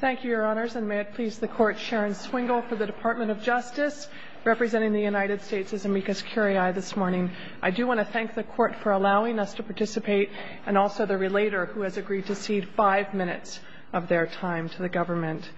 Thank you, Your Honors, and may it please the Court, Sharon Swingle for the Department of Justice, representing the United States as amicus curiae this morning. I do want to thank the Court for allowing us to participate, and also the relator who has agreed to cede five minutes of their time to the government.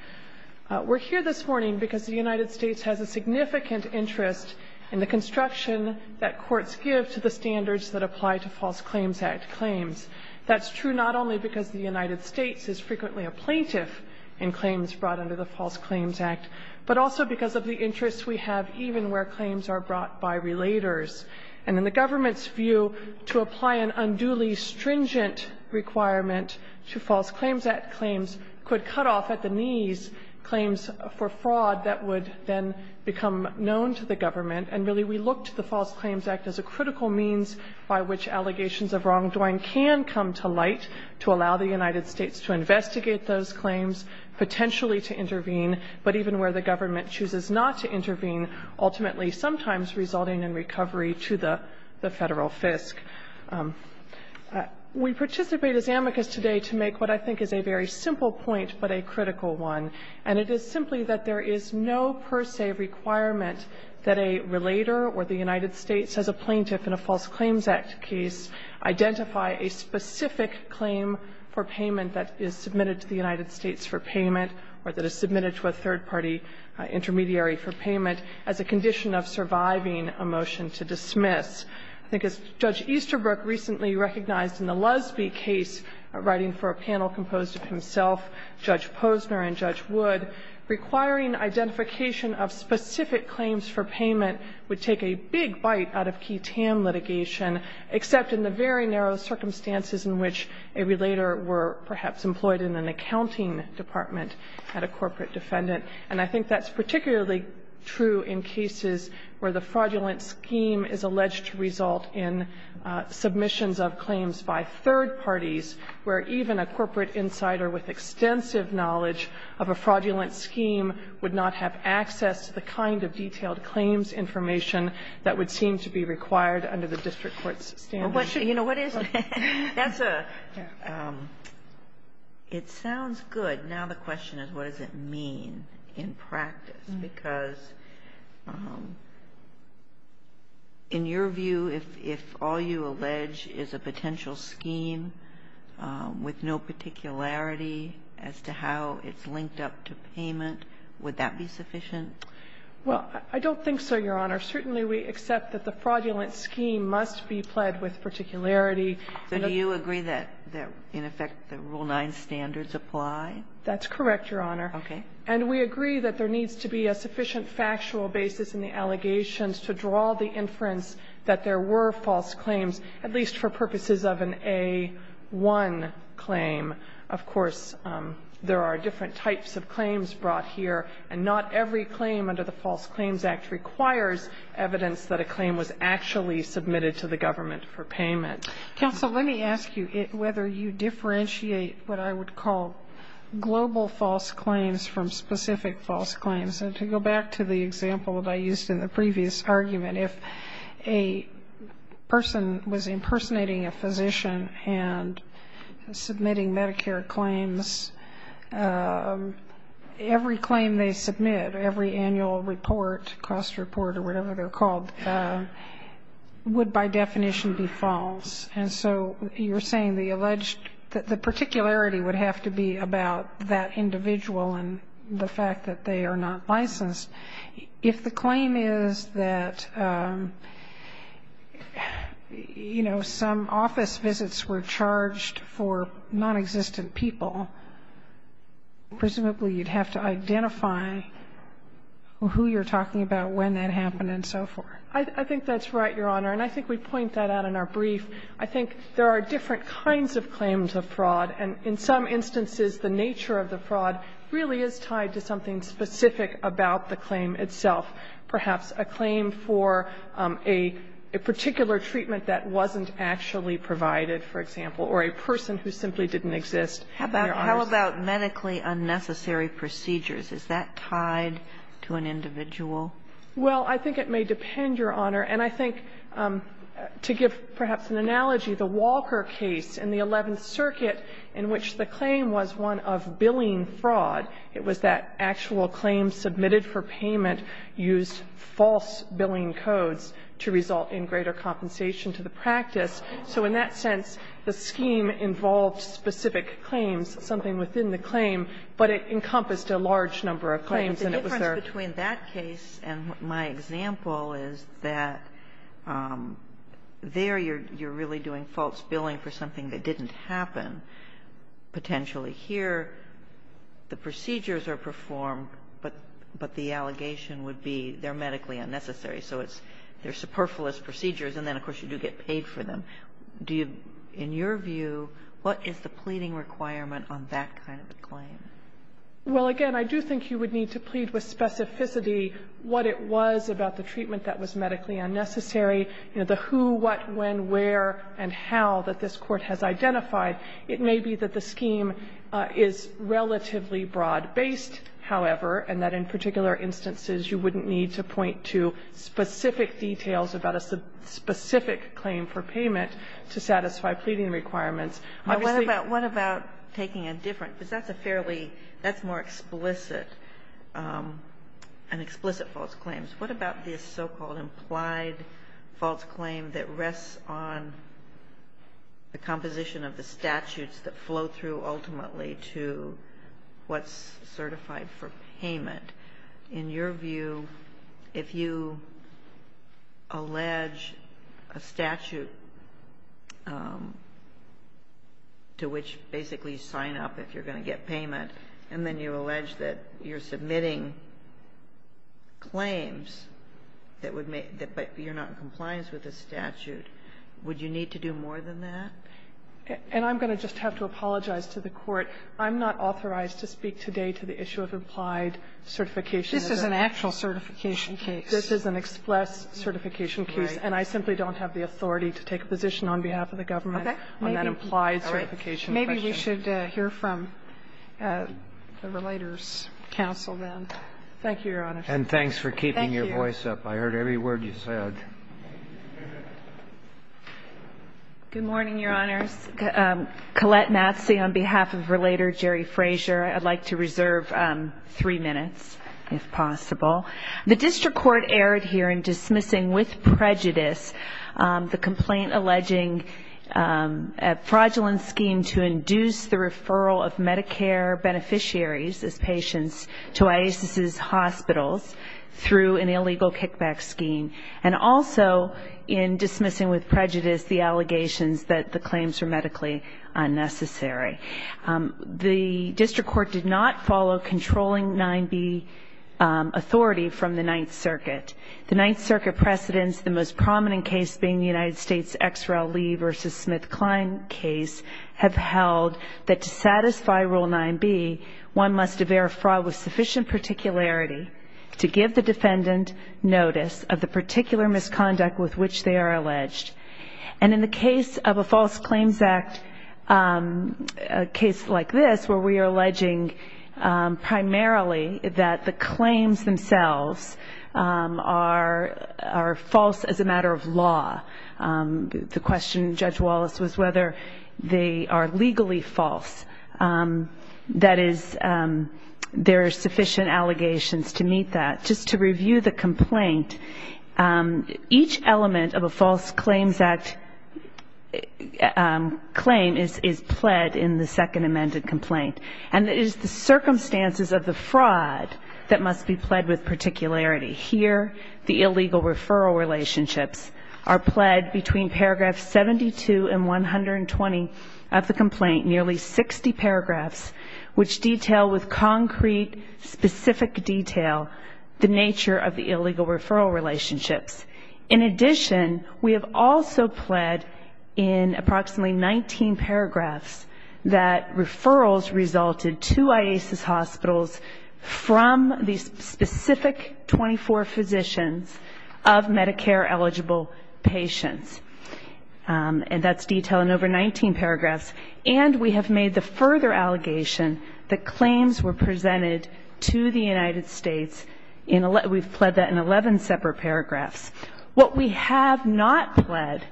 We're here this morning because the United States has a significant interest in the construction that courts give to the standards that apply to False Claims Act claims. That's true not only because the United States is frequently a plaintiff in claims brought under the False Claims Act, but also because of the interest we have even where claims are brought by relators. And in the government's view, to apply an unduly stringent requirement to False Claims Act claims could cut off at the knees claims for fraud that would then become known to the government. And really, we looked to the False Claims Act as a critical means by which allegations of wrongdoing can come to light to allow the United States to investigate those claims, potentially to intervene, but even where the government chooses not to intervene, ultimately sometimes resulting in recovery to the Federal FISC. We participate as amicus today to make what I think is a very simple point, but a critical one. And it is simply that there is no per se requirement that a relator or the United States, as a plaintiff in a False Claims Act case, identify a specific claim for payment that is submitted to the United States for payment, or that is submitted to a third-party intermediary for payment, as a condition of surviving a motion to dismiss. I think as Judge Easterbrook recently recognized in the Lusby case, writing for a panel composed of himself, Judge Posner, and Judge Wood, requiring identification of specific claims for payment would take a big bite out of key TAM litigation, except in the very narrow circumstances in which a relator were perhaps employed in an accounting department at a corporate defendant. And I think that's particularly true in cases where the fraudulent scheme is alleged to result in submissions of claims by third parties, where even a corporate insider with extensive knowledge of a fraudulent scheme would not have access to the kind of detailed claims information that would seem to be required under the district court's standards. Kagan. It sounds good. Now the question is, what does it mean in practice? Because in your view, if all you allege is a potential scheme with no particularity as to how it's linked up to payment, would that be sufficient? Well, I don't think so, Your Honor. Certainly we accept that the fraudulent scheme must be pled with particularity. So do you agree that in effect the Rule 9 standards apply? That's correct, Your Honor. Okay. And we agree that there needs to be a sufficient factual basis in the allegations to draw the inference that there were false claims, at least for purposes of an A1 claim. Of course, there are different types of claims brought here, and not every claim under the False Claims Act requires evidence that a claim was actually submitted to the government for payment. Counsel, let me ask you whether you differentiate what I would call global false claims from specific false claims. And to go back to the example that I used in the previous argument, if a person was impersonating a physician and submitting Medicare claims, every claim they submit, every annual report, cost report or whatever they're called, would by definition be false. And so you're saying the alleged the particularity would have to be about that individual and the fact that they are not licensed. If the claim is that, you know, some office visits were charged for nonexistent people, presumably you'd have to identify who you're talking about, when that happened and so forth. I think that's right, Your Honor. And I think we point that out in our brief. I think there are different kinds of claims of fraud. And in some instances, the nature of the fraud really is tied to something specific about the claim itself, perhaps a claim for a particular treatment that wasn't actually provided, for example, or a person who simply didn't exist. How about medically unnecessary procedures? Is that tied to an individual? Well, I think it may depend, Your Honor. And I think, to give perhaps an analogy, the Walker case in the Eleventh Circuit, in which the claim was one of billing fraud, it was that actual claims submitted for payment used false billing codes to result in greater compensation to the practice. So in that sense, the scheme involved specific claims, something within the claim, And the difference between that case and my example is that there you're really doing false billing for something that didn't happen, potentially here, the procedures are performed, but the allegation would be they're medically unnecessary. So it's they're superfluous procedures, and then, of course, you do get paid for them. Do you, in your view, what is the pleading requirement on that kind of a claim? Well, again, I do think you would need to plead with specificity what it was about the treatment that was medically unnecessary, you know, the who, what, when, where and how that this Court has identified. It may be that the scheme is relatively broad-based, however, and that in particular instances, you wouldn't need to point to specific details about a specific claim for payment to satisfy pleading requirements. Obviously you can't. But what about taking a different, because that's a fairly, that's more explicit, an explicit false claim. What about this so-called implied false claim that rests on the composition of the statutes that flow through ultimately to what's certified for payment? In your view, if you allege a statute to which basically you sign up if you're going to get payment, and then you allege that you're submitting claims that would make, but you're not in compliance with the statute, would you need to do more than that? And I'm going to just have to apologize to the Court. I'm not authorized to speak today to the issue of implied certification. This is an actual certification case. This is an express certification case. Right. And I simply don't have the authority to take a position on behalf of the government on that implied certification question. Okay. Maybe we should hear from the Relators Council then. Thank you, Your Honor. And thanks for keeping your voice up. Thank you. I heard every word you said. Good morning, Your Honors. Collette Matsey on behalf of Relator Jerry Frazier. I'd like to reserve three minutes, if possible. The district court erred here in dismissing with prejudice the complaint alleging a fraudulent scheme to induce the referral of Medicare beneficiaries as patients to IASIS's hospitals through an illegal kickback scheme, and also in dismissing with prejudice the allegations that the claims were medically unnecessary. The district court did not follow controlling 9B authority from the Ninth Circuit. The Ninth Circuit precedents, the most prominent case being the United States' X. Rel. Lee v. Smith-Kline case, have held that to satisfy Rule 9B, one must aver fraud with sufficient particularity to give the defendant notice of the particular misconduct with which they are alleged. And in the case of a False Claims Act, a case like this where we are alleging primarily that the claims themselves are false as a matter of law, the question, Judge Wallace, was whether they are legally false. That is, there are sufficient allegations to meet that. Just to review the complaint, each element of a False Claims Act claim is pled in the second amended complaint. And it is the circumstances of the fraud that must be pled with particularity. Here, the illegal referral relationships are pled between paragraphs 72 and 120 of the nature of the illegal referral relationships. In addition, we have also pled in approximately 19 paragraphs that referrals resulted to IASIS hospitals from the specific 24 physicians of Medicare-eligible patients. And that's detailed in over 19 paragraphs. And we have made the further allegation that claims were presented to the United States in 11 separate paragraphs. What we have not pled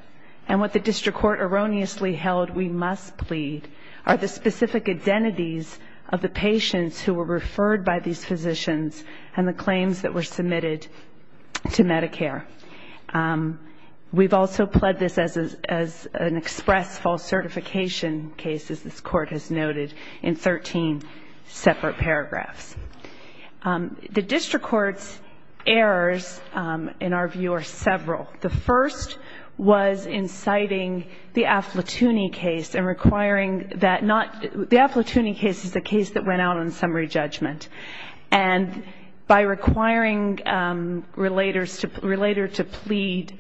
and what the district court erroneously held we must plead are the specific identities of the patients who were referred by these physicians and the claims that were submitted to Medicare. We have also pled this as an express false certification case, as this Court has noted, in 13 separate paragraphs. The district court's errors, in our view, are several. The first was inciting the Affletuni case and requiring that not the Affletuni case is the case that went out on summary judgment. And by requiring relators to plead,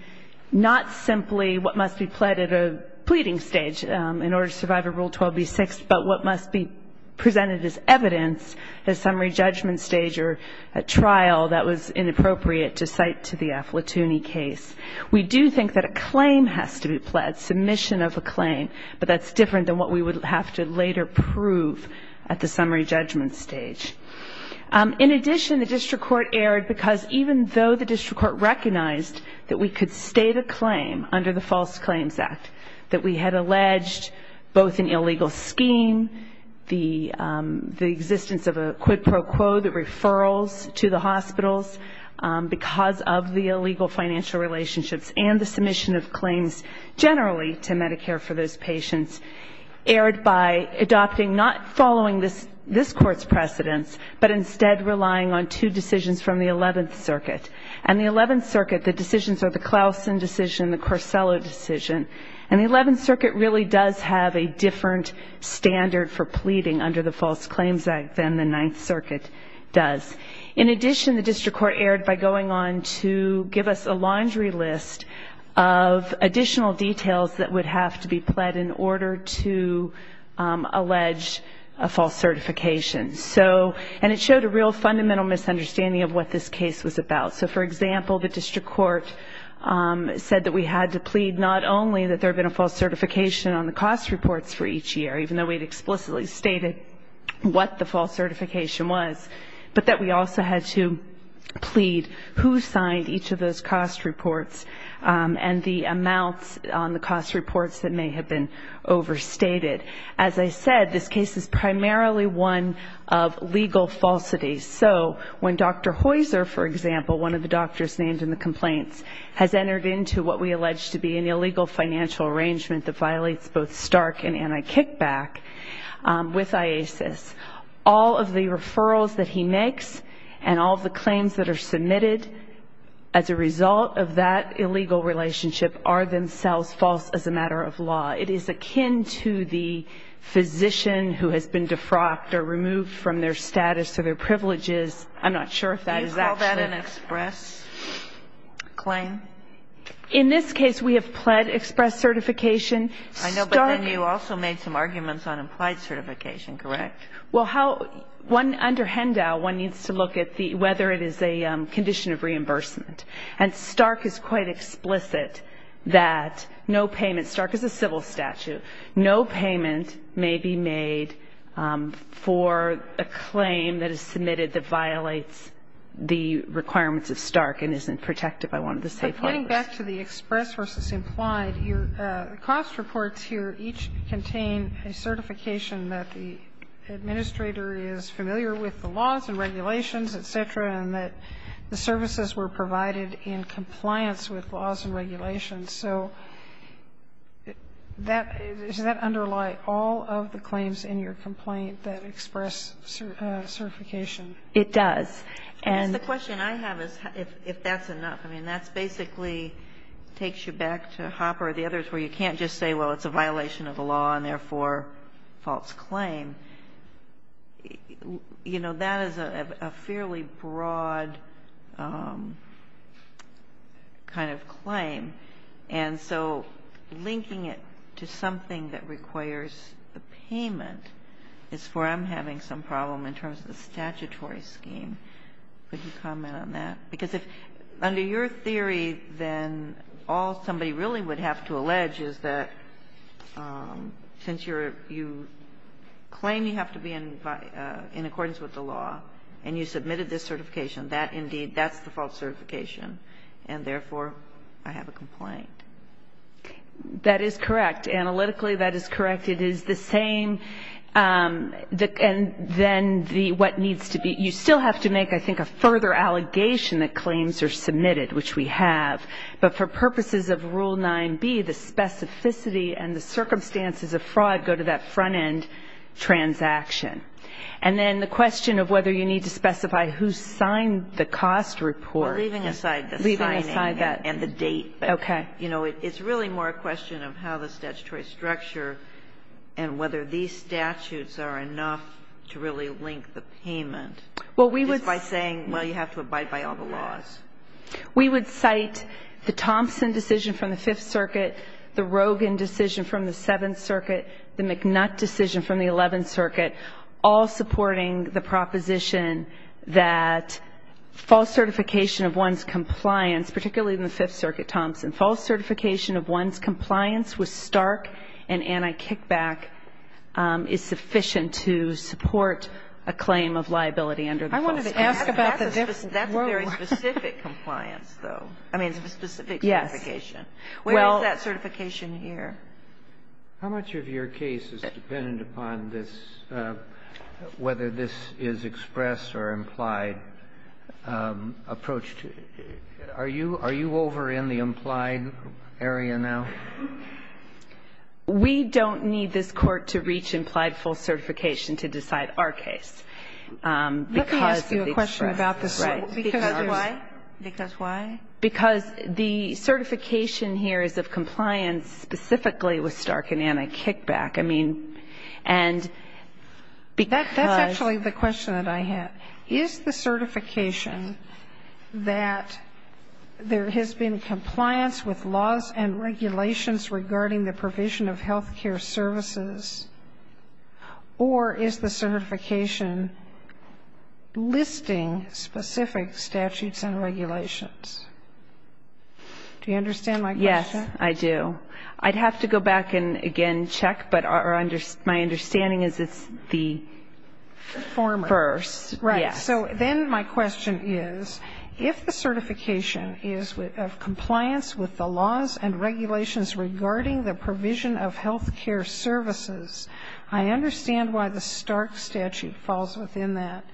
not simply what must be pled at a pleading stage in order to survive a Rule 12b-6, but what must be presented as evidence at a summary judgment stage or a trial that was inappropriate to cite to the Affletuni case. We do think that a claim has to be pled, submission of a claim, but that's different than what we would have to later prove at the summary judgment stage. In addition, the district court erred because even though the district court recognized that we could state a claim under the False Claims Act, that we had alleged both an illegal scheme, the existence of a quid pro quo, the referrals to the hospitals because of the illegal financial relationships and the submission of claims generally to Medicare for those patients, erred by adopting, not following this Court's precedents, but instead relying on two decisions from the Eleventh Circuit. And the Eleventh Circuit, the decisions are the Clausen decision, the Corsello decision, and the Eleventh Circuit really does have a different standard for pleading under the False Claims Act than the Ninth Circuit does. In addition, the district court erred by going on to give us a laundry list of additional details that would have to be pled in order to allege a false certification. So, and it showed a real fundamental misunderstanding of what this case was about. So, for example, the district court said that we had to plead not only that there had been a false certification on the cost reports for each year, even though we had explicitly stated what the false certification was, but that we also had to plead who signed each of those cost reports and the amounts on the cost reports that may have been overstated. As I said, this case is primarily one of legal falsities. So when Dr. Heuser, for example, one of the doctors named in the complaints, has entered into what we allege to be an illegal financial arrangement that violates both Stark and anti-kickback with IASIS, all of the referrals that he makes and all of the claims that are submitted as a result of that illegal relationship are themselves false as a matter of law. It is akin to the physician who has been defrocked or removed from their status or their privileges. I'm not sure if that is actually an express claim. In this case, we have pled express certification. I know, but then you also made some arguments on implied certification, correct? Well, how one, under Hendow, one needs to look at whether it is a condition of reimbursement. And Stark is quite explicit that no payment, Stark is a civil statute, no payment may be made for a claim that is submitted that violates the requirements of Stark and isn't protected by one of the state courts. Getting back to the express versus implied, your cost reports here each contain a certification that the administrator is familiar with the laws and regulations, et cetera, and that the services were provided in compliance with laws and regulations. So does that underlie all of the claims in your complaint that express certification? It does. And the question I have is if that's enough. I mean, that's basically takes you back to Hopper or the others where you can't just say, well, it's a violation of the law and therefore false claim. You know, that is a fairly broad kind of claim. And so linking it to something that requires a payment is where I'm having some problem in terms of the statutory scheme. Would you comment on that? Because if under your theory, then all somebody really would have to allege is that since you're you claim you have to be in accordance with the law and you submitted this certification, that indeed, that's the false certification, and therefore I have a complaint. That is correct. Analytically, that is correct. It is the same. And then what needs to be you still have to make, I think, a further allegation that claims are submitted, which we have. But for purposes of Rule 9b, the specificity and the circumstances of fraud go to that front-end transaction. And then the question of whether you need to specify who signed the cost report. Leaving aside the signing and the date. Okay. It's really more a question of how the statutory structure and whether these statutes are enough to really link the payment. Well, we would. Just by saying, well, you have to abide by all the laws. We would cite the Thompson decision from the Fifth Circuit, the Rogin decision from the Seventh Circuit, the McNutt decision from the Eleventh Circuit, all supporting the proposition that false certification of one's compliance, particularly in the Fifth Circuit, Thompson. False certification of one's compliance with Stark and anti-kickback is sufficient to support a claim of liability under the Fifth Circuit. I wanted to ask about the difference. That's a very specific compliance, though. I mean, it's a specific certification. Yes. Where is that certification here? How much of your case is dependent upon this, whether this is express or implied approach to it? Are you over in the implied area now? We don't need this Court to reach implied false certification to decide our case because of the express. Let me ask you a question about this. Why? Because why? Because the certification here is of compliance specifically with Stark and anti-kickback. I mean, and because That's actually the question that I had. Is the certification that there has been compliance with laws and regulations regarding the provision of health care services, or is the certification listing specific statutes and regulations? Do you understand my question? Yes, I do. I'd have to go back and again check, but my understanding is it's the first. Right. So then my question is, if the certification is of compliance with the laws and regulations regarding the provision of health care services, I understand why the Stark statute falls within that.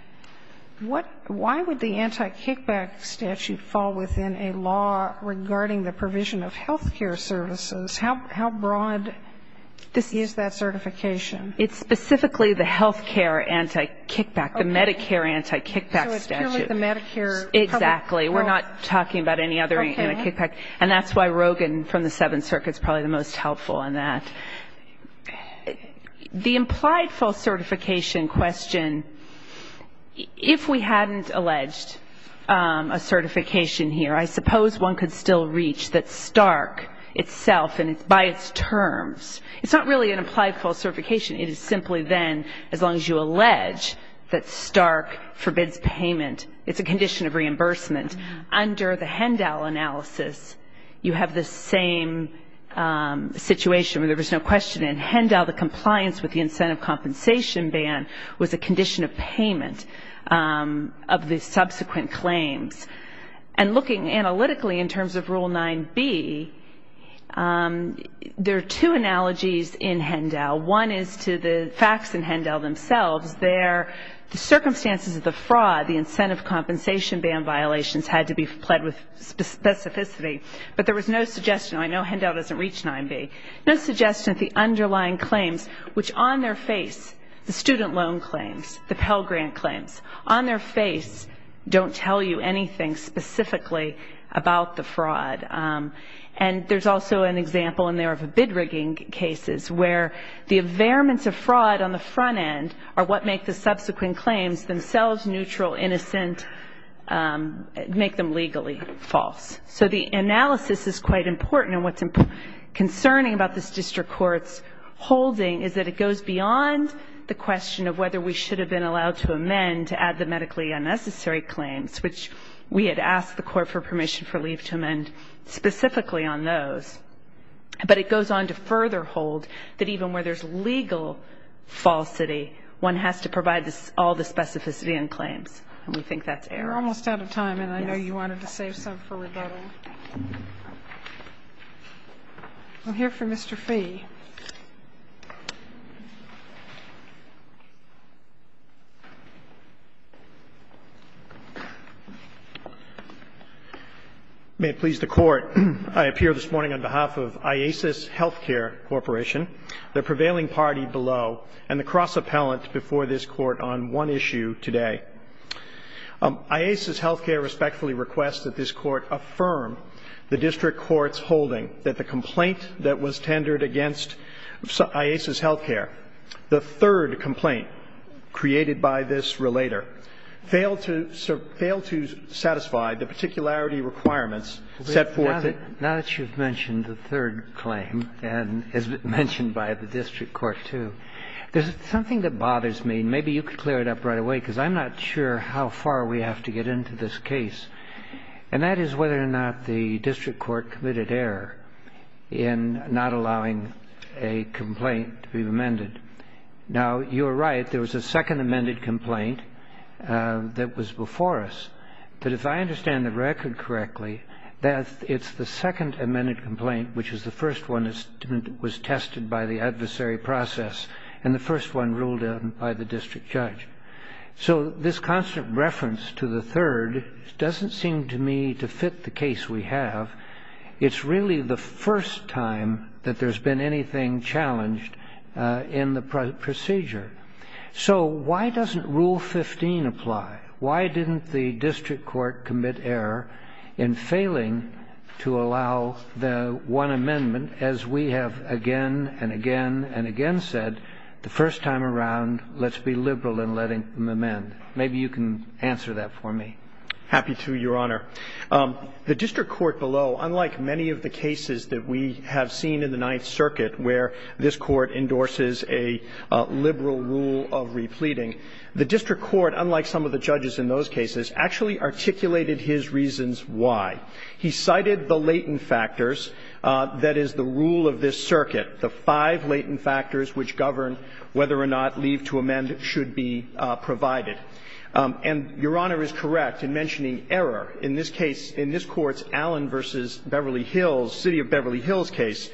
Why would the anti-kickback statute fall within a law regarding the provision of health care services? How broad is that certification? It's specifically the health care anti-kickback, the Medicare anti-kickback statute. So it's purely the Medicare public health? Exactly. We're not talking about any other anti-kickback. Okay. And that's why Rogan from the Seventh Circuit is probably the most helpful in that. The implied false certification question, if we hadn't alleged a certification here, I suppose one could still reach that Stark itself by its terms. It's not really an implied false certification. It is simply then, as long as you allege that Stark forbids payment, it's a condition of reimbursement. Under the Hendal analysis, you have the same situation where there was no question. In Hendal, the compliance with the incentive compensation ban was a condition of payment of the subsequent claims. And looking analytically in terms of Rule 9B, there are two analogies in Hendal. One is to the facts in Hendal themselves. The circumstances of the fraud, the incentive compensation ban violations had to be pled with specificity, but there was no suggestion. I know Hendal doesn't reach 9B. No suggestion that the underlying claims, which on their face, the student loan claims, the Pell Grant claims, on their face don't tell you anything specifically about the fraud. And there's also an example in there of a bid rigging cases where the availments of fraud on the front end are what make the subsequent claims themselves neutral, innocent, make them legally false. So the analysis is quite important, and what's concerning about this district court's holding is that it goes beyond the question of whether we should have been allowed to amend to add the medically unnecessary claims, which we had asked the court for permission for leave to amend specifically on those. But it goes on to further hold that even where there's legal falsity, one has to provide all the specificity in claims, and we think that's error. You're almost out of time, and I know you wanted to save some for rebuttal. Thank you. I'll hear from Mr. Fee. May it please the Court. I appear this morning on behalf of IASIS Healthcare Corporation, the prevailing party below, and the cross-appellant before this Court on one issue today. IASIS Healthcare respectfully requests that this Court affirm the district court's holding that the complaint that was tendered against IASIS Healthcare, the third complaint created by this relator, failed to satisfy the particularity requirements set forth in this case. Now that you've mentioned the third claim, and as mentioned by the district court too, there's something that bothers me. Maybe you could clear it up right away, because I'm not sure how far we have to get into this case, and that is whether or not the district court committed error in not allowing a complaint to be amended. Now, you're right. There was a second amended complaint that was before us. But if I understand the record correctly, it's the second amended complaint, which is the first one that was tested by the adversary process, and the first one ruled in by the district judge. So this constant reference to the third doesn't seem to me to fit the case we have. It's really the first time that there's been anything challenged in the procedure. So why doesn't Rule 15 apply? Why didn't the district court commit error in failing to allow the one amendment, as we have again and again and again said the first time around, let's be liberal in letting them amend? Maybe you can answer that for me. Happy to, Your Honor. The district court below, unlike many of the cases that we have seen in the Ninth Circuit where this court endorses a liberal rule of repleting, the district court, unlike some of the judges in those cases, actually articulated his reasons why. He cited the latent factors, that is, the rule of this circuit, the five latent factors which govern whether or not leave to amend should be provided. And Your Honor is correct in mentioning error. In this case, in this Court's Allen v. Beverly Hills, City of Beverly Hills case,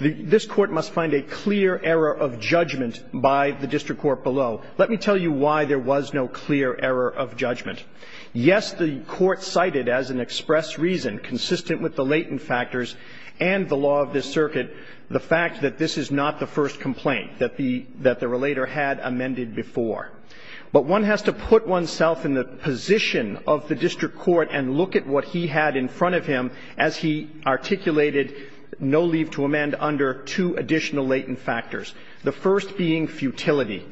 this Court must find a clear error of judgment by the district court below. Let me tell you why there was no clear error of judgment. Yes, the Court cited as an express reason, consistent with the latent factors and the law of this circuit, the fact that this is not the first complaint that the relator had amended before. But one has to put oneself in the position of the district court and look at what he had in front of him as he articulated no leave to amend under two additional latent factors, the first being futility.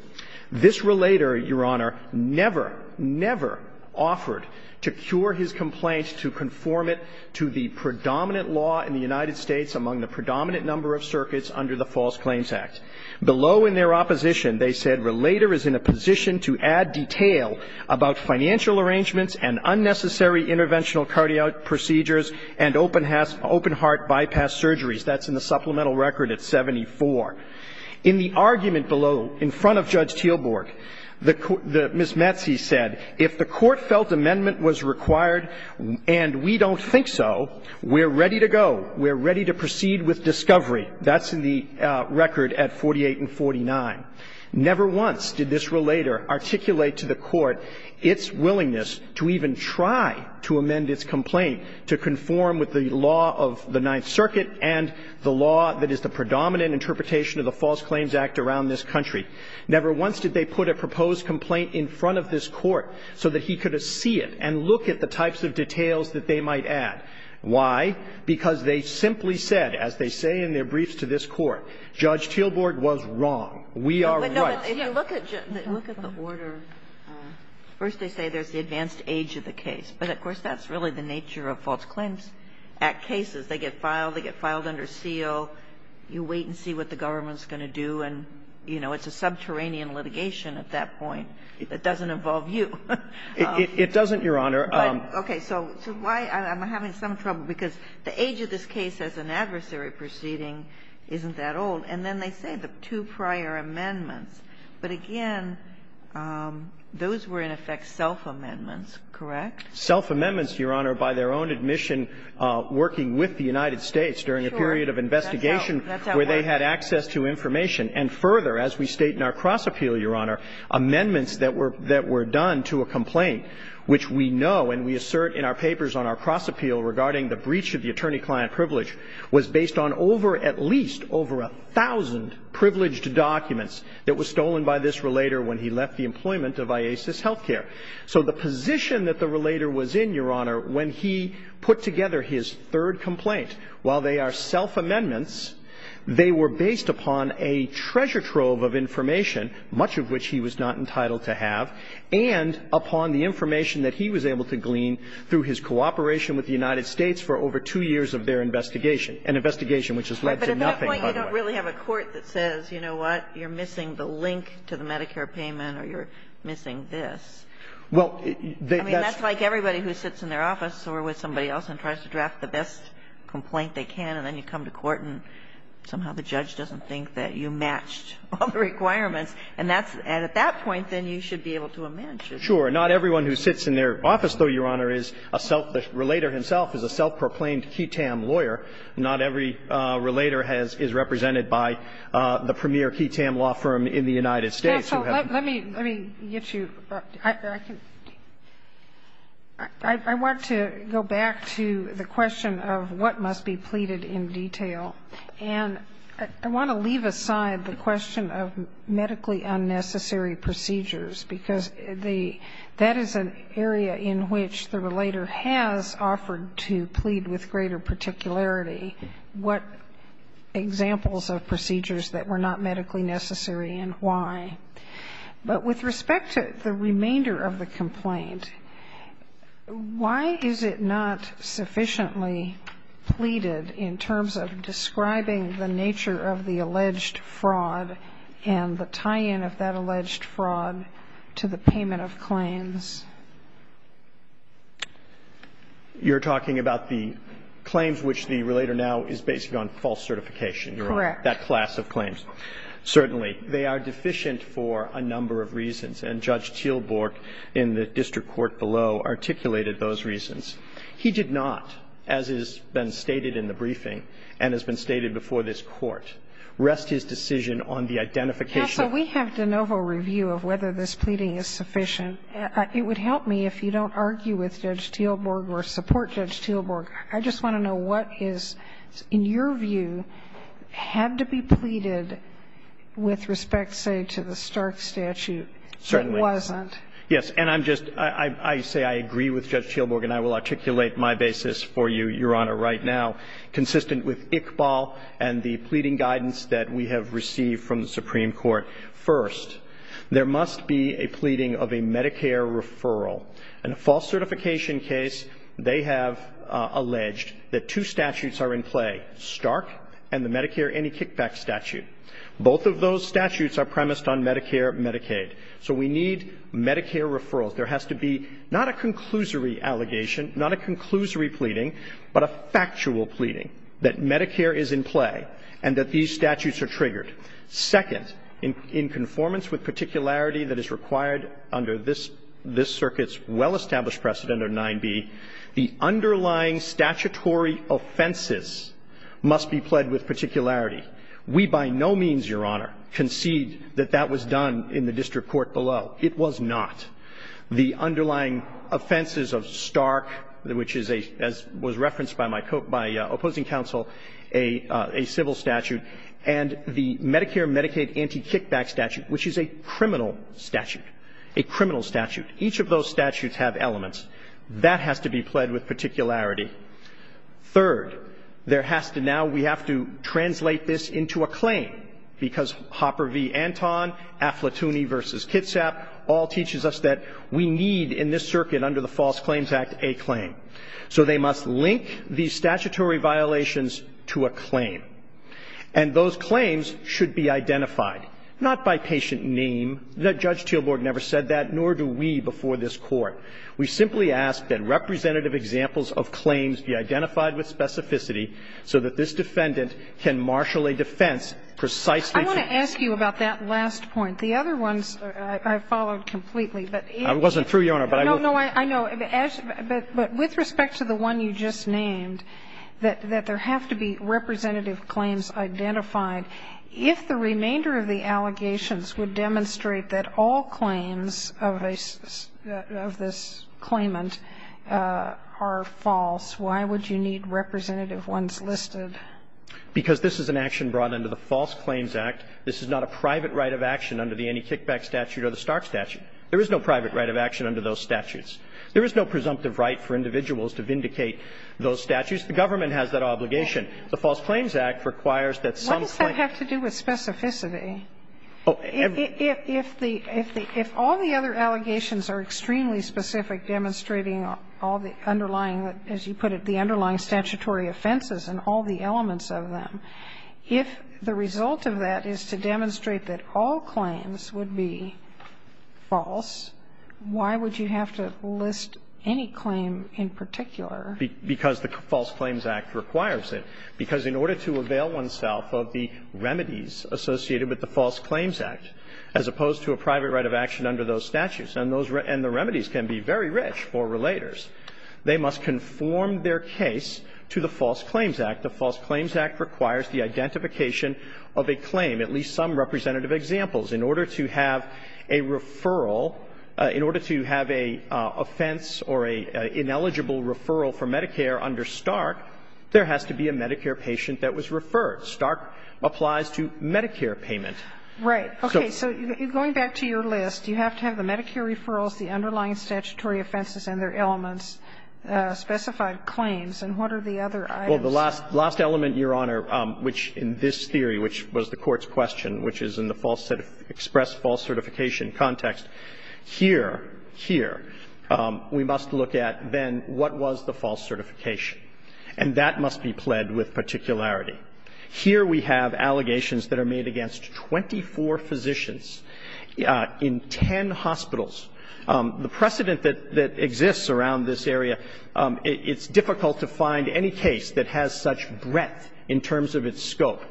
This relator, Your Honor, never, never offered to cure his complaint to conform it to the predominant law in the United States among the predominant number of circuits under the False Claims Act. Below in their opposition, they said, Relator is in a position to add detail about financial arrangements and unnecessary interventional cardiac procedures and open heart bypass surgeries. That's in the supplemental record at 74. In the argument below, in front of Judge Teelborg, Ms. Metzi said, if the Court felt amendment was required and we don't think so, we're ready to go. We're ready to proceed with discovery. That's in the record at 48 and 49. Never once did this relator articulate to the Court its willingness to even try to amend its complaint to conform with the law of the Ninth Circuit and the law that is the predominant interpretation of the False Claims Act around this country. Never once did they put a proposed complaint in front of this Court so that he could see it and look at the types of details that they might add. Why? Because they simply said, as they say in their briefs to this Court, Judge Teelborg was wrong. We are right. Kagan. Kagan. Kagan. You wait and see what the government is going to do. And, you know, it's a subterranean litigation at that point. It doesn't involve you. It doesn't, Your Honor. Okay. So why am I having some trouble? Because the age of this case as an adversary proceeding isn't that old. And then they say the two prior amendments. But again, those were in effect self-amendments, correct? Self-amendments, Your Honor, by their own admission, working with the United States during a period of investigation. That's how it worked. Where they had access to information. And further, as we state in our cross-appeal, Your Honor, amendments that were done to a complaint, which we know and we assert in our papers on our cross-appeal regarding the breach of the attorney-client privilege, was based on over at least over a thousand privileged documents that were stolen by this relator when he left the employment of IASIS Healthcare. So the position that the relator was in, Your Honor, when he put together his third complaint, while they are self-amendments, they were based upon a treasure trove of information, much of which he was not entitled to have, and upon the information that he was able to glean through his cooperation with the United States for over two years of their investigation, an investigation which has led to nothing, by the way. But at that point, you don't really have a court that says, you know what, you're missing the link to the Medicare payment or you're missing this. I mean, that's like everybody who sits in their office or with somebody else and tries to draft the best complaint they can, and then you come to court and somehow the judge doesn't think that you matched all the requirements. And that's at that point, then you should be able to amend. Sure. Not everyone who sits in their office, though, Your Honor, is a self-relator himself, is a self-proclaimed QI-TAM lawyer. Not every relator has been represented by the premier QI-TAM law firm in the United States. So let me get you up. I want to go back to the question of what must be pleaded in detail. And I want to leave aside the question of medically unnecessary procedures because that is an area in which the relator has offered to plead with greater particularity what examples of procedures that were not medically necessary and why. But with respect to the remainder of the complaint, why is it not sufficiently pleaded in terms of describing the nature of the alleged fraud and the tie-in of that alleged fraud to the payment of claims? You're talking about the claims which the relator now is basing on false certification. Correct. That class of claims. Certainly. They are deficient for a number of reasons. And Judge Teelborg, in the district court below, articulated those reasons. He did not, as has been stated in the briefing and has been stated before this Court, rest his decision on the identification. Counsel, we have de novo review of whether this pleading is sufficient. It would help me if you don't argue with Judge Teelborg or support Judge Teelborg. I just want to know what is, in your view, had to be pleaded with respect, say, to the Stark statute. Certainly. It wasn't. Yes. And I'm just, I say I agree with Judge Teelborg, and I will articulate my basis for you, Your Honor, right now, consistent with Iqbal and the pleading guidance that we have received from the Supreme Court. First, there must be a pleading of a Medicare referral. In a false certification case, they have alleged that two statutes are in play, Stark and the Medicare Any Kickback statute. Both of those statutes are premised on Medicare and Medicaid. So we need Medicare referrals. There has to be not a conclusory allegation, not a conclusory pleading, but a factual pleading that Medicare is in play and that these statutes are triggered. Second, in conformance with particularity that is required under this circuit's well-established precedent of 9b, the underlying statutory offenses must be pled with particularity. We, by no means, Your Honor, concede that that was done in the district court below. It was not. The underlying offenses of Stark, which is a, as was referenced by my, by opposing counsel, a civil statute, and the Medicare and Medicaid Anti-Kickback statute, which is a criminal statute, a criminal statute. Each of those statutes have elements. That has to be pled with particularity. Third, there has to now, we have to translate this into a claim, because Hopper v. Anton, Affletooney v. Kitsap all teaches us that we need in this circuit under the False Claims Act a claim. So they must link these statutory violations to a claim. And those claims should be identified, not by patient name. Now, Judge Teelborg never said that, nor do we before this Court. We simply ask that representative examples of claims be identified with specificity so that this defendant can marshal a defense precisely to the claim. I want to ask you about that last point. The other ones I followed completely, but if they're not. I wasn't through, Your Honor, but I will. No, no, I know. But with respect to the one you just named, that there have to be representative claims identified, if the remainder of the allegations would demonstrate that all claims of this claimant are false, why would you need representative ones listed? Because this is an action brought under the False Claims Act. This is not a private right of action under the Annie Kickback statute or the Stark statute. There is no private right of action under those statutes. There is no presumptive right for individuals to vindicate those statutes. The government has that obligation. The False Claims Act requires that some claimant. What does that have to do with specificity? If all the other allegations are extremely specific, demonstrating all the underlying that, as you put it, the underlying statutory offenses and all the elements of them, if the result of that is to demonstrate that all claims would be false, why would you have to list any claim in particular? Because the False Claims Act requires it. Because in order to avail oneself of the remedies associated with the False Claims Act, as opposed to a private right of action under those statutes, and the remedies can be very rich for relators, they must conform their case to the False Claims Act. The False Claims Act requires the identification of a claim, at least some representative examples, in order to have a referral, in order to have an offense or an ineligible referral for Medicare under Stark, there has to be a Medicare patient that was referred. Stark applies to Medicare payment. Right. Okay. So going back to your list, you have to have the Medicare referrals, the underlying statutory offenses and their elements, specified claims. And what are the other items? Well, the last element, Your Honor, which in this theory, which was the Court's question, which is in the express false certification context, here, here, we must look at then what was the false certification. And that must be pled with particularity. Here we have allegations that are made against 24 physicians in 10 hospitals. The precedent that exists around this area, it's difficult to find any case that has such breadth in terms of its scope.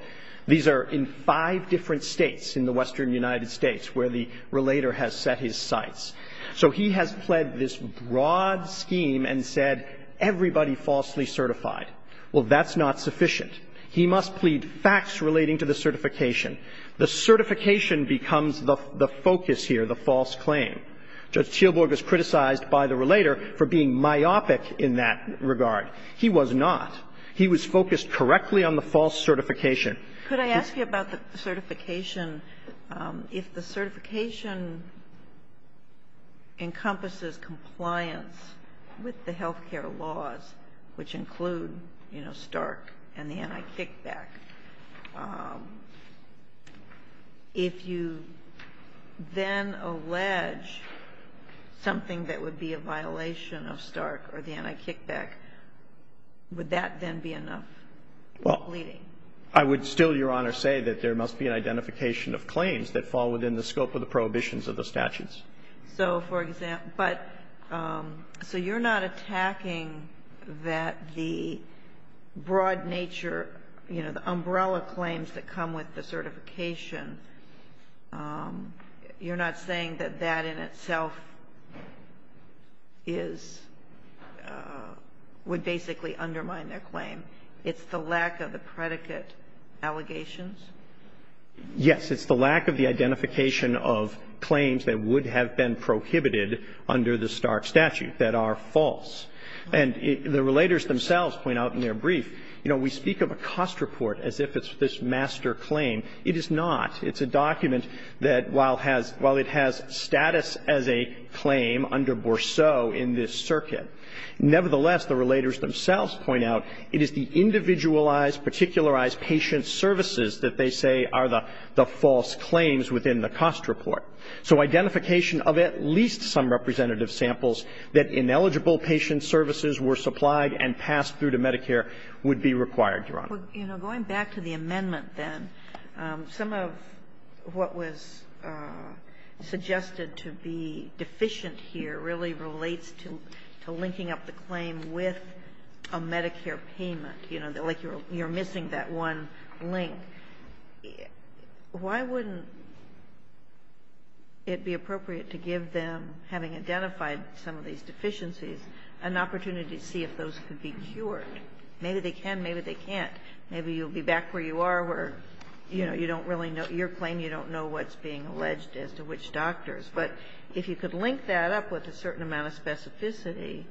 These are in five different states in the western United States where the relator has set his sights. So he has pled this broad scheme and said everybody falsely certified. Well, that's not sufficient. He must plead facts relating to the certification. The certification becomes the focus here, the false claim. Judge Teelborg was criticized by the relator for being myopic in that regard. He was not. He was focused correctly on the false certification. Could I ask you about the certification? If the certification encompasses compliance with the health care laws, which include, you know, Stark and the anti-kickback, if you then allege something that would be a violation of Stark or the anti-kickback, would that then be enough pleading? I would still, Your Honor, say that there must be an identification of claims that fall within the scope of the prohibitions of the statutes. So, for example, but so you're not attacking that the broad nature, you know, the umbrella claims that come with the certification, you're not saying that that in itself is, would basically undermine their claim. It's the lack of the predicate allegations? Yes. It's the lack of the identification of claims that would have been prohibited under the Stark statute that are false. And the relators themselves point out in their brief, you know, we speak of a cost report as if it's this master claim. It is not. It's a document that, while it has status as a claim under Bourseau in this circuit, nevertheless, the relators themselves point out it is the individualized, particularized patient services that they say are the false claims within the cost report. So identification of at least some representative samples that ineligible patient services were supplied and passed through to Medicare would be required, Your Honor. Well, you know, going back to the amendment then, some of what was suggested to be deficient here really relates to linking up the claim with a Medicare payment, you know, like you're missing that one link. Why wouldn't it be appropriate to give them, having identified some of these deficiencies, an opportunity to see if those could be cured? Maybe they can, maybe they can't. Maybe you'll be back where you are, where, you know, you don't really know, your being alleged as to which doctors. But if you could link that up with a certain amount of specificity,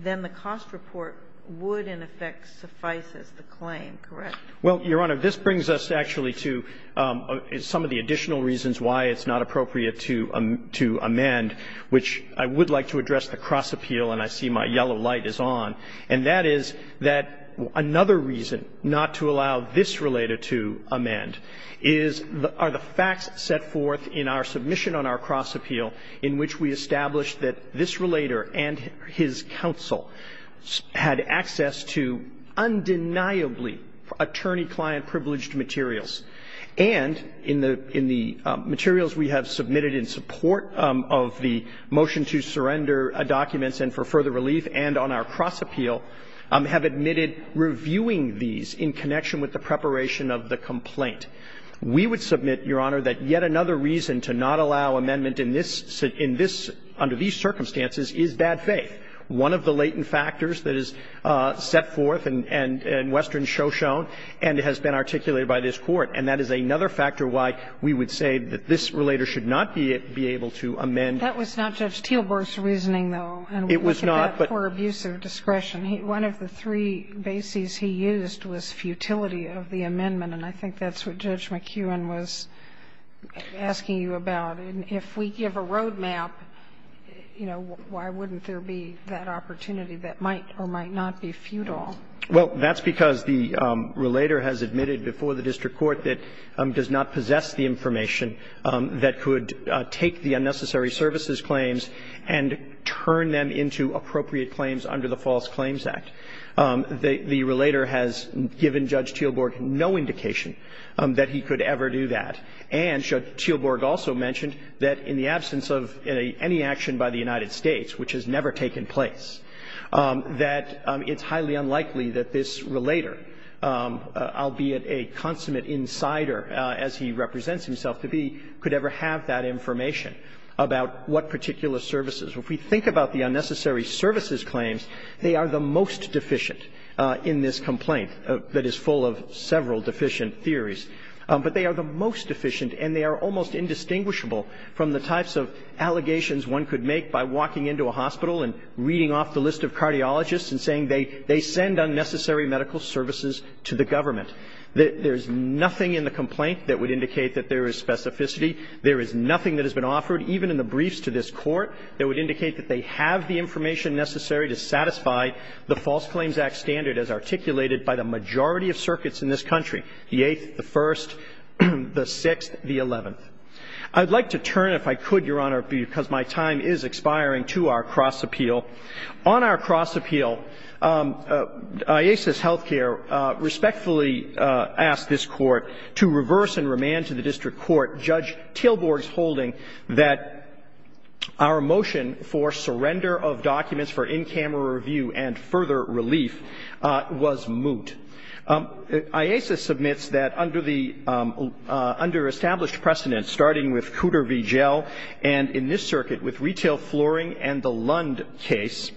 then the cost report would, in effect, suffice as the claim, correct? Well, Your Honor, this brings us actually to some of the additional reasons why it's not appropriate to amend, which I would like to address the cross-appeal, and I see my yellow light is on, and that is that another reason not to allow this relator to amend is, are the facts set forth in our submission on our cross-appeal in which we established that this relator and his counsel had access to undeniably attorney-client-privileged materials, and in the materials we have submitted in support of the motion to surrender documents and for further relief and on our cross-appeal, have admitted reviewing these in connection with the preparation of the complaint. We would submit, Your Honor, that yet another reason to not allow amendment in this under these circumstances is bad faith. One of the latent factors that is set forth in Western Shoshone and has been articulated by this Court, and that is another factor why we would say that this relator should not be able to amend. That was not Judge Teelborg's reasoning, though. It was not. But for abuse of discretion, one of the three bases he used was futility of the amendment, and I think that's what Judge McEwen was asking you about. And if we give a road map, you know, why wouldn't there be that opportunity that might or might not be futile? Well, that's because the relator has admitted before the district court that does not possess the information that could take the unnecessary services claims and turn them into appropriate claims under the False Claims Act. The relator has given Judge Teelborg no indication that he could ever do that. And Judge Teelborg also mentioned that in the absence of any action by the United States, which has never taken place, that it's highly unlikely that this relator, albeit a consummate insider as he represents himself to be, could ever have that information about what particular services. If we think about the unnecessary services claims, they are the most deficient in this complaint that is full of several deficient theories. But they are the most deficient and they are almost indistinguishable from the types of allegations one could make by walking into a hospital and reading off the list of cardiologists and saying they send unnecessary medical services to the government. There is nothing in the complaint that would indicate that there is specificity. There is nothing that has been offered, even in the briefs to this Court, that would indicate that they have the information necessary to satisfy the False Claims Act standard as articulated by the majority of circuits in this country, the Eighth, the First, the Sixth, the Eleventh. I would like to turn, if I could, Your Honor, because my time is expiring, to our cross-appeal. On our cross-appeal, IASIS Healthcare respectfully asked this Court to reverse and remand to the District Court Judge Tilburg's holding that our motion for surrender of documents for in-camera review and further relief was moot. IASIS submits that under the under-established precedents, starting with Cooter v. Jell and in this circuit with retail flooring and the Lund case,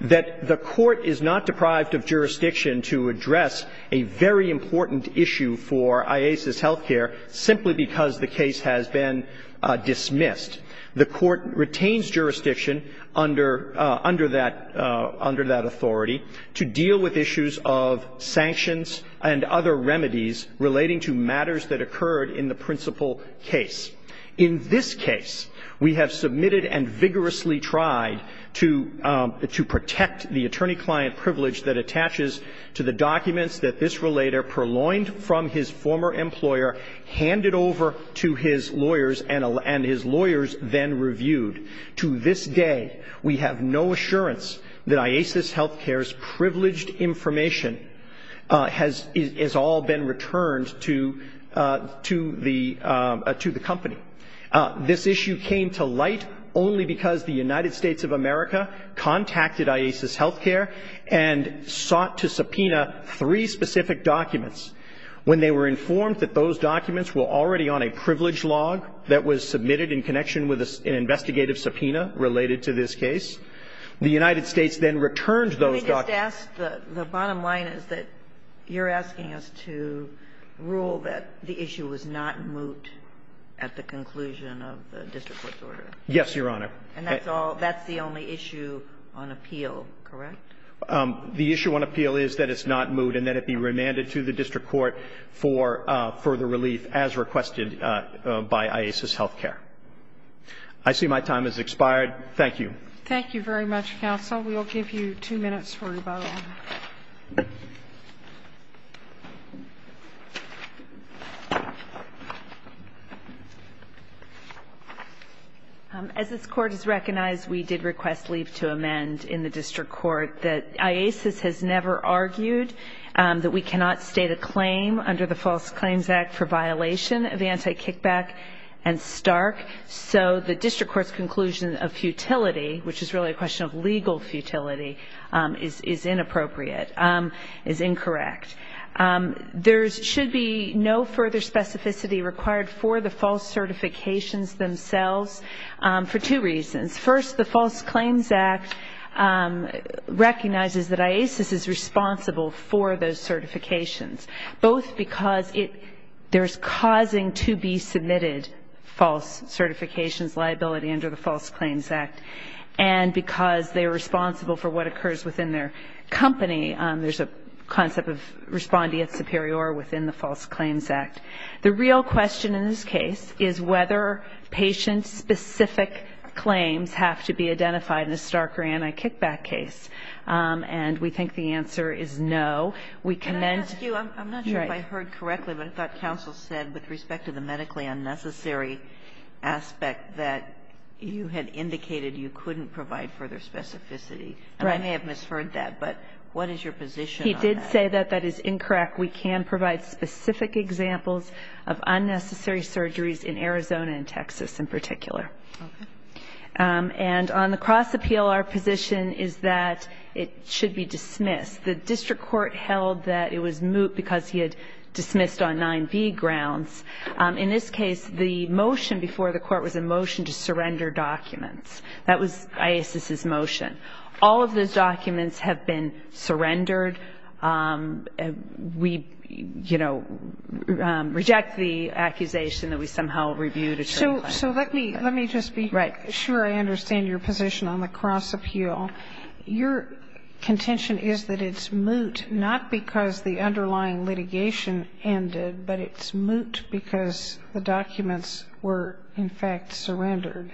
that the Court is not deprived of jurisdiction to address a very important issue for IASIS Healthcare simply because the case has been dismissed. The Court retains jurisdiction under that authority to deal with issues of sanctions and other remedies relating to matters that occurred in the principal case. In this case, we have submitted and vigorously tried to protect the attorney-client privilege that attaches to the documents that this relator purloined from his former employer, handed over to his lawyers, and his lawyers then reviewed. To this day, we have no assurance that IASIS Healthcare's privileged information has all been returned to the company. This issue came to light only because the United States of America contacted IASIS Healthcare and sought to subpoena three specific documents. When they were informed that those documents were already on a privilege log that was submitted in connection with an investigative subpoena related to this case, the United States then returned those documents. The bottom line is that you're asking us to rule that the issue was not moot at the conclusion of the district court's order. Yes, Your Honor. And that's the only issue on appeal, correct? The issue on appeal is that it's not moot and that it be remanded to the district court for further relief as requested by IASIS Healthcare. I see my time has expired. Thank you. Thank you very much, counsel. We will give you two minutes for rebuttal. As this court has recognized, we did request leave to amend in the district court that IASIS has never argued that we cannot state a claim under the False Claims Act for violation of anti-kickback and Stark, so the district court's conclusion of futility, which is really a question of legal futility, is inappropriate, is incorrect. There should be no further specificity required for the false certifications themselves for two reasons. First, the False Claims Act recognizes that IASIS is responsible for those certifications, both because there's causing to be submitted false certifications liability under the False Claims Act, and because they are responsible for what occurs within their company. There's a concept of respondeat superior within the False Claims Act. The real question in this case is whether patient-specific claims have to be identified in a Stark or anti-kickback case, and we think the answer is no. We commend you. Can I ask you, I'm not sure if I heard correctly, but I thought counsel said with respect to the medically unnecessary aspect that you had indicated you couldn't provide further specificity. Right. And I may have misheard that, but what is your position on that? He did say that that is incorrect. We can provide specific examples of unnecessary surgeries in Arizona and Texas in particular. Okay. And on the cross-appeal, our position is that it should be dismissed. The district court held that it was moot because he had dismissed on 9B grounds. In this case, the motion before the court was a motion to surrender documents. That was IASIS's motion. All of those documents have been surrendered. We, you know, reject the accusation that we somehow reviewed a true claim. So let me just be sure I understand your position on the cross-appeal. Your contention is that it's moot not because the underlying litigation ended, but it's moot because the documents were, in fact, surrendered.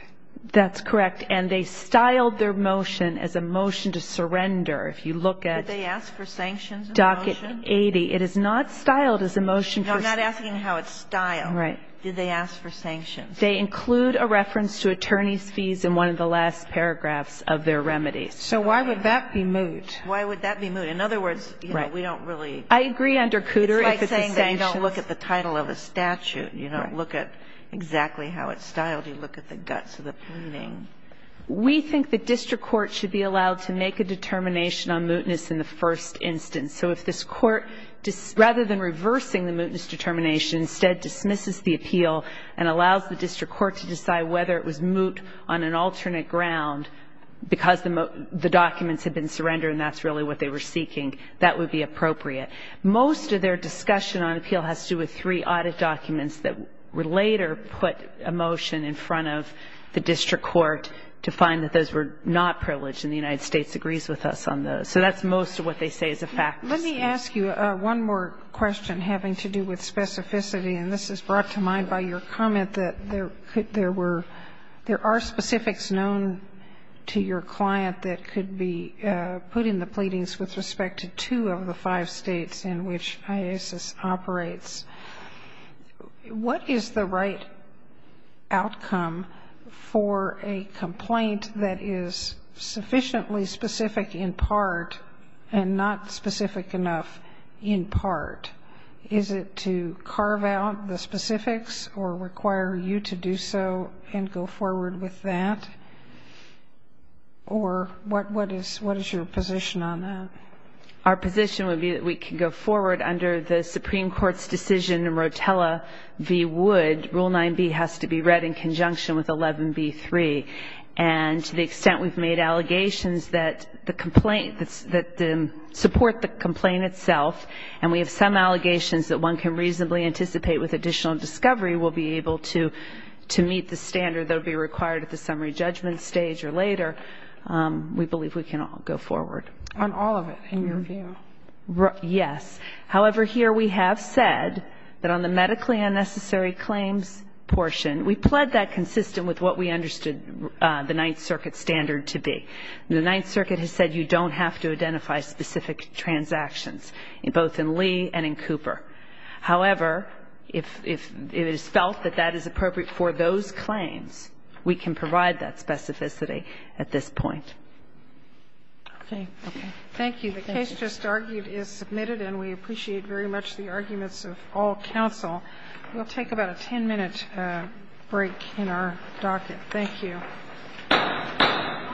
That's correct. And they styled their motion as a motion to surrender. If you look at Docket 80, it is not styled as a motion. No, I'm not asking how it's styled. Right. Did they ask for sanctions? They include a reference to attorney's fees in one of the last paragraphs of their remedies. So why would that be moot? Why would that be moot? In other words, you know, we don't really. I agree under Cooter if it's a sanction. It's like saying you don't look at the title of a statute. You don't look at exactly how it's styled. You look at the guts of the pleading. We think the district court should be allowed to make a determination on mootness in the first instance. So if this court, rather than reversing the mootness determination, instead dismisses the appeal and allows the district court to decide whether it was moot on an alternate ground because the documents had been surrendered and that's really what they were seeking, that would be appropriate. Most of their discussion on appeal has to do with three audit documents that were later put a motion in front of the district court to find that those were not privileged, and the United States agrees with us on those. So that's most of what they say is a fact. Kagan. Let me ask you one more question having to do with specificity, and this is brought to mind by your comment that there are specifics known to your client that could be put in the pleadings with respect to two of the five States in which IASIS operates. What is the right outcome for a complaint that is sufficiently specific in part and not specific enough in part? Is it to carve out the specifics or require you to do so and go forward with that? Or what is your position on that? Our position would be that we could go forward under the Supreme Court's decision in Rotella v. Wood. Rule 9b has to be read in conjunction with 11b-3. And to the extent we've made allegations that the complaint, that support the complaint itself, and we have some allegations that one can reasonably anticipate with additional discovery we'll be able to meet the standard that would be required at the summary judgment stage or later, we believe we can go forward. On all of it, in your view? Yes. However, here we have said that on the medically unnecessary claims portion, we pled that it is consistent with what we understood the Ninth Circuit standard to be. The Ninth Circuit has said you don't have to identify specific transactions, both in Lee and in Cooper. However, if it is felt that that is appropriate for those claims, we can provide that specificity at this point. Okay. Thank you. The case just argued is submitted, and we appreciate very much the arguments of all counsel. We'll take about a ten-minute break in our docket. Thank you.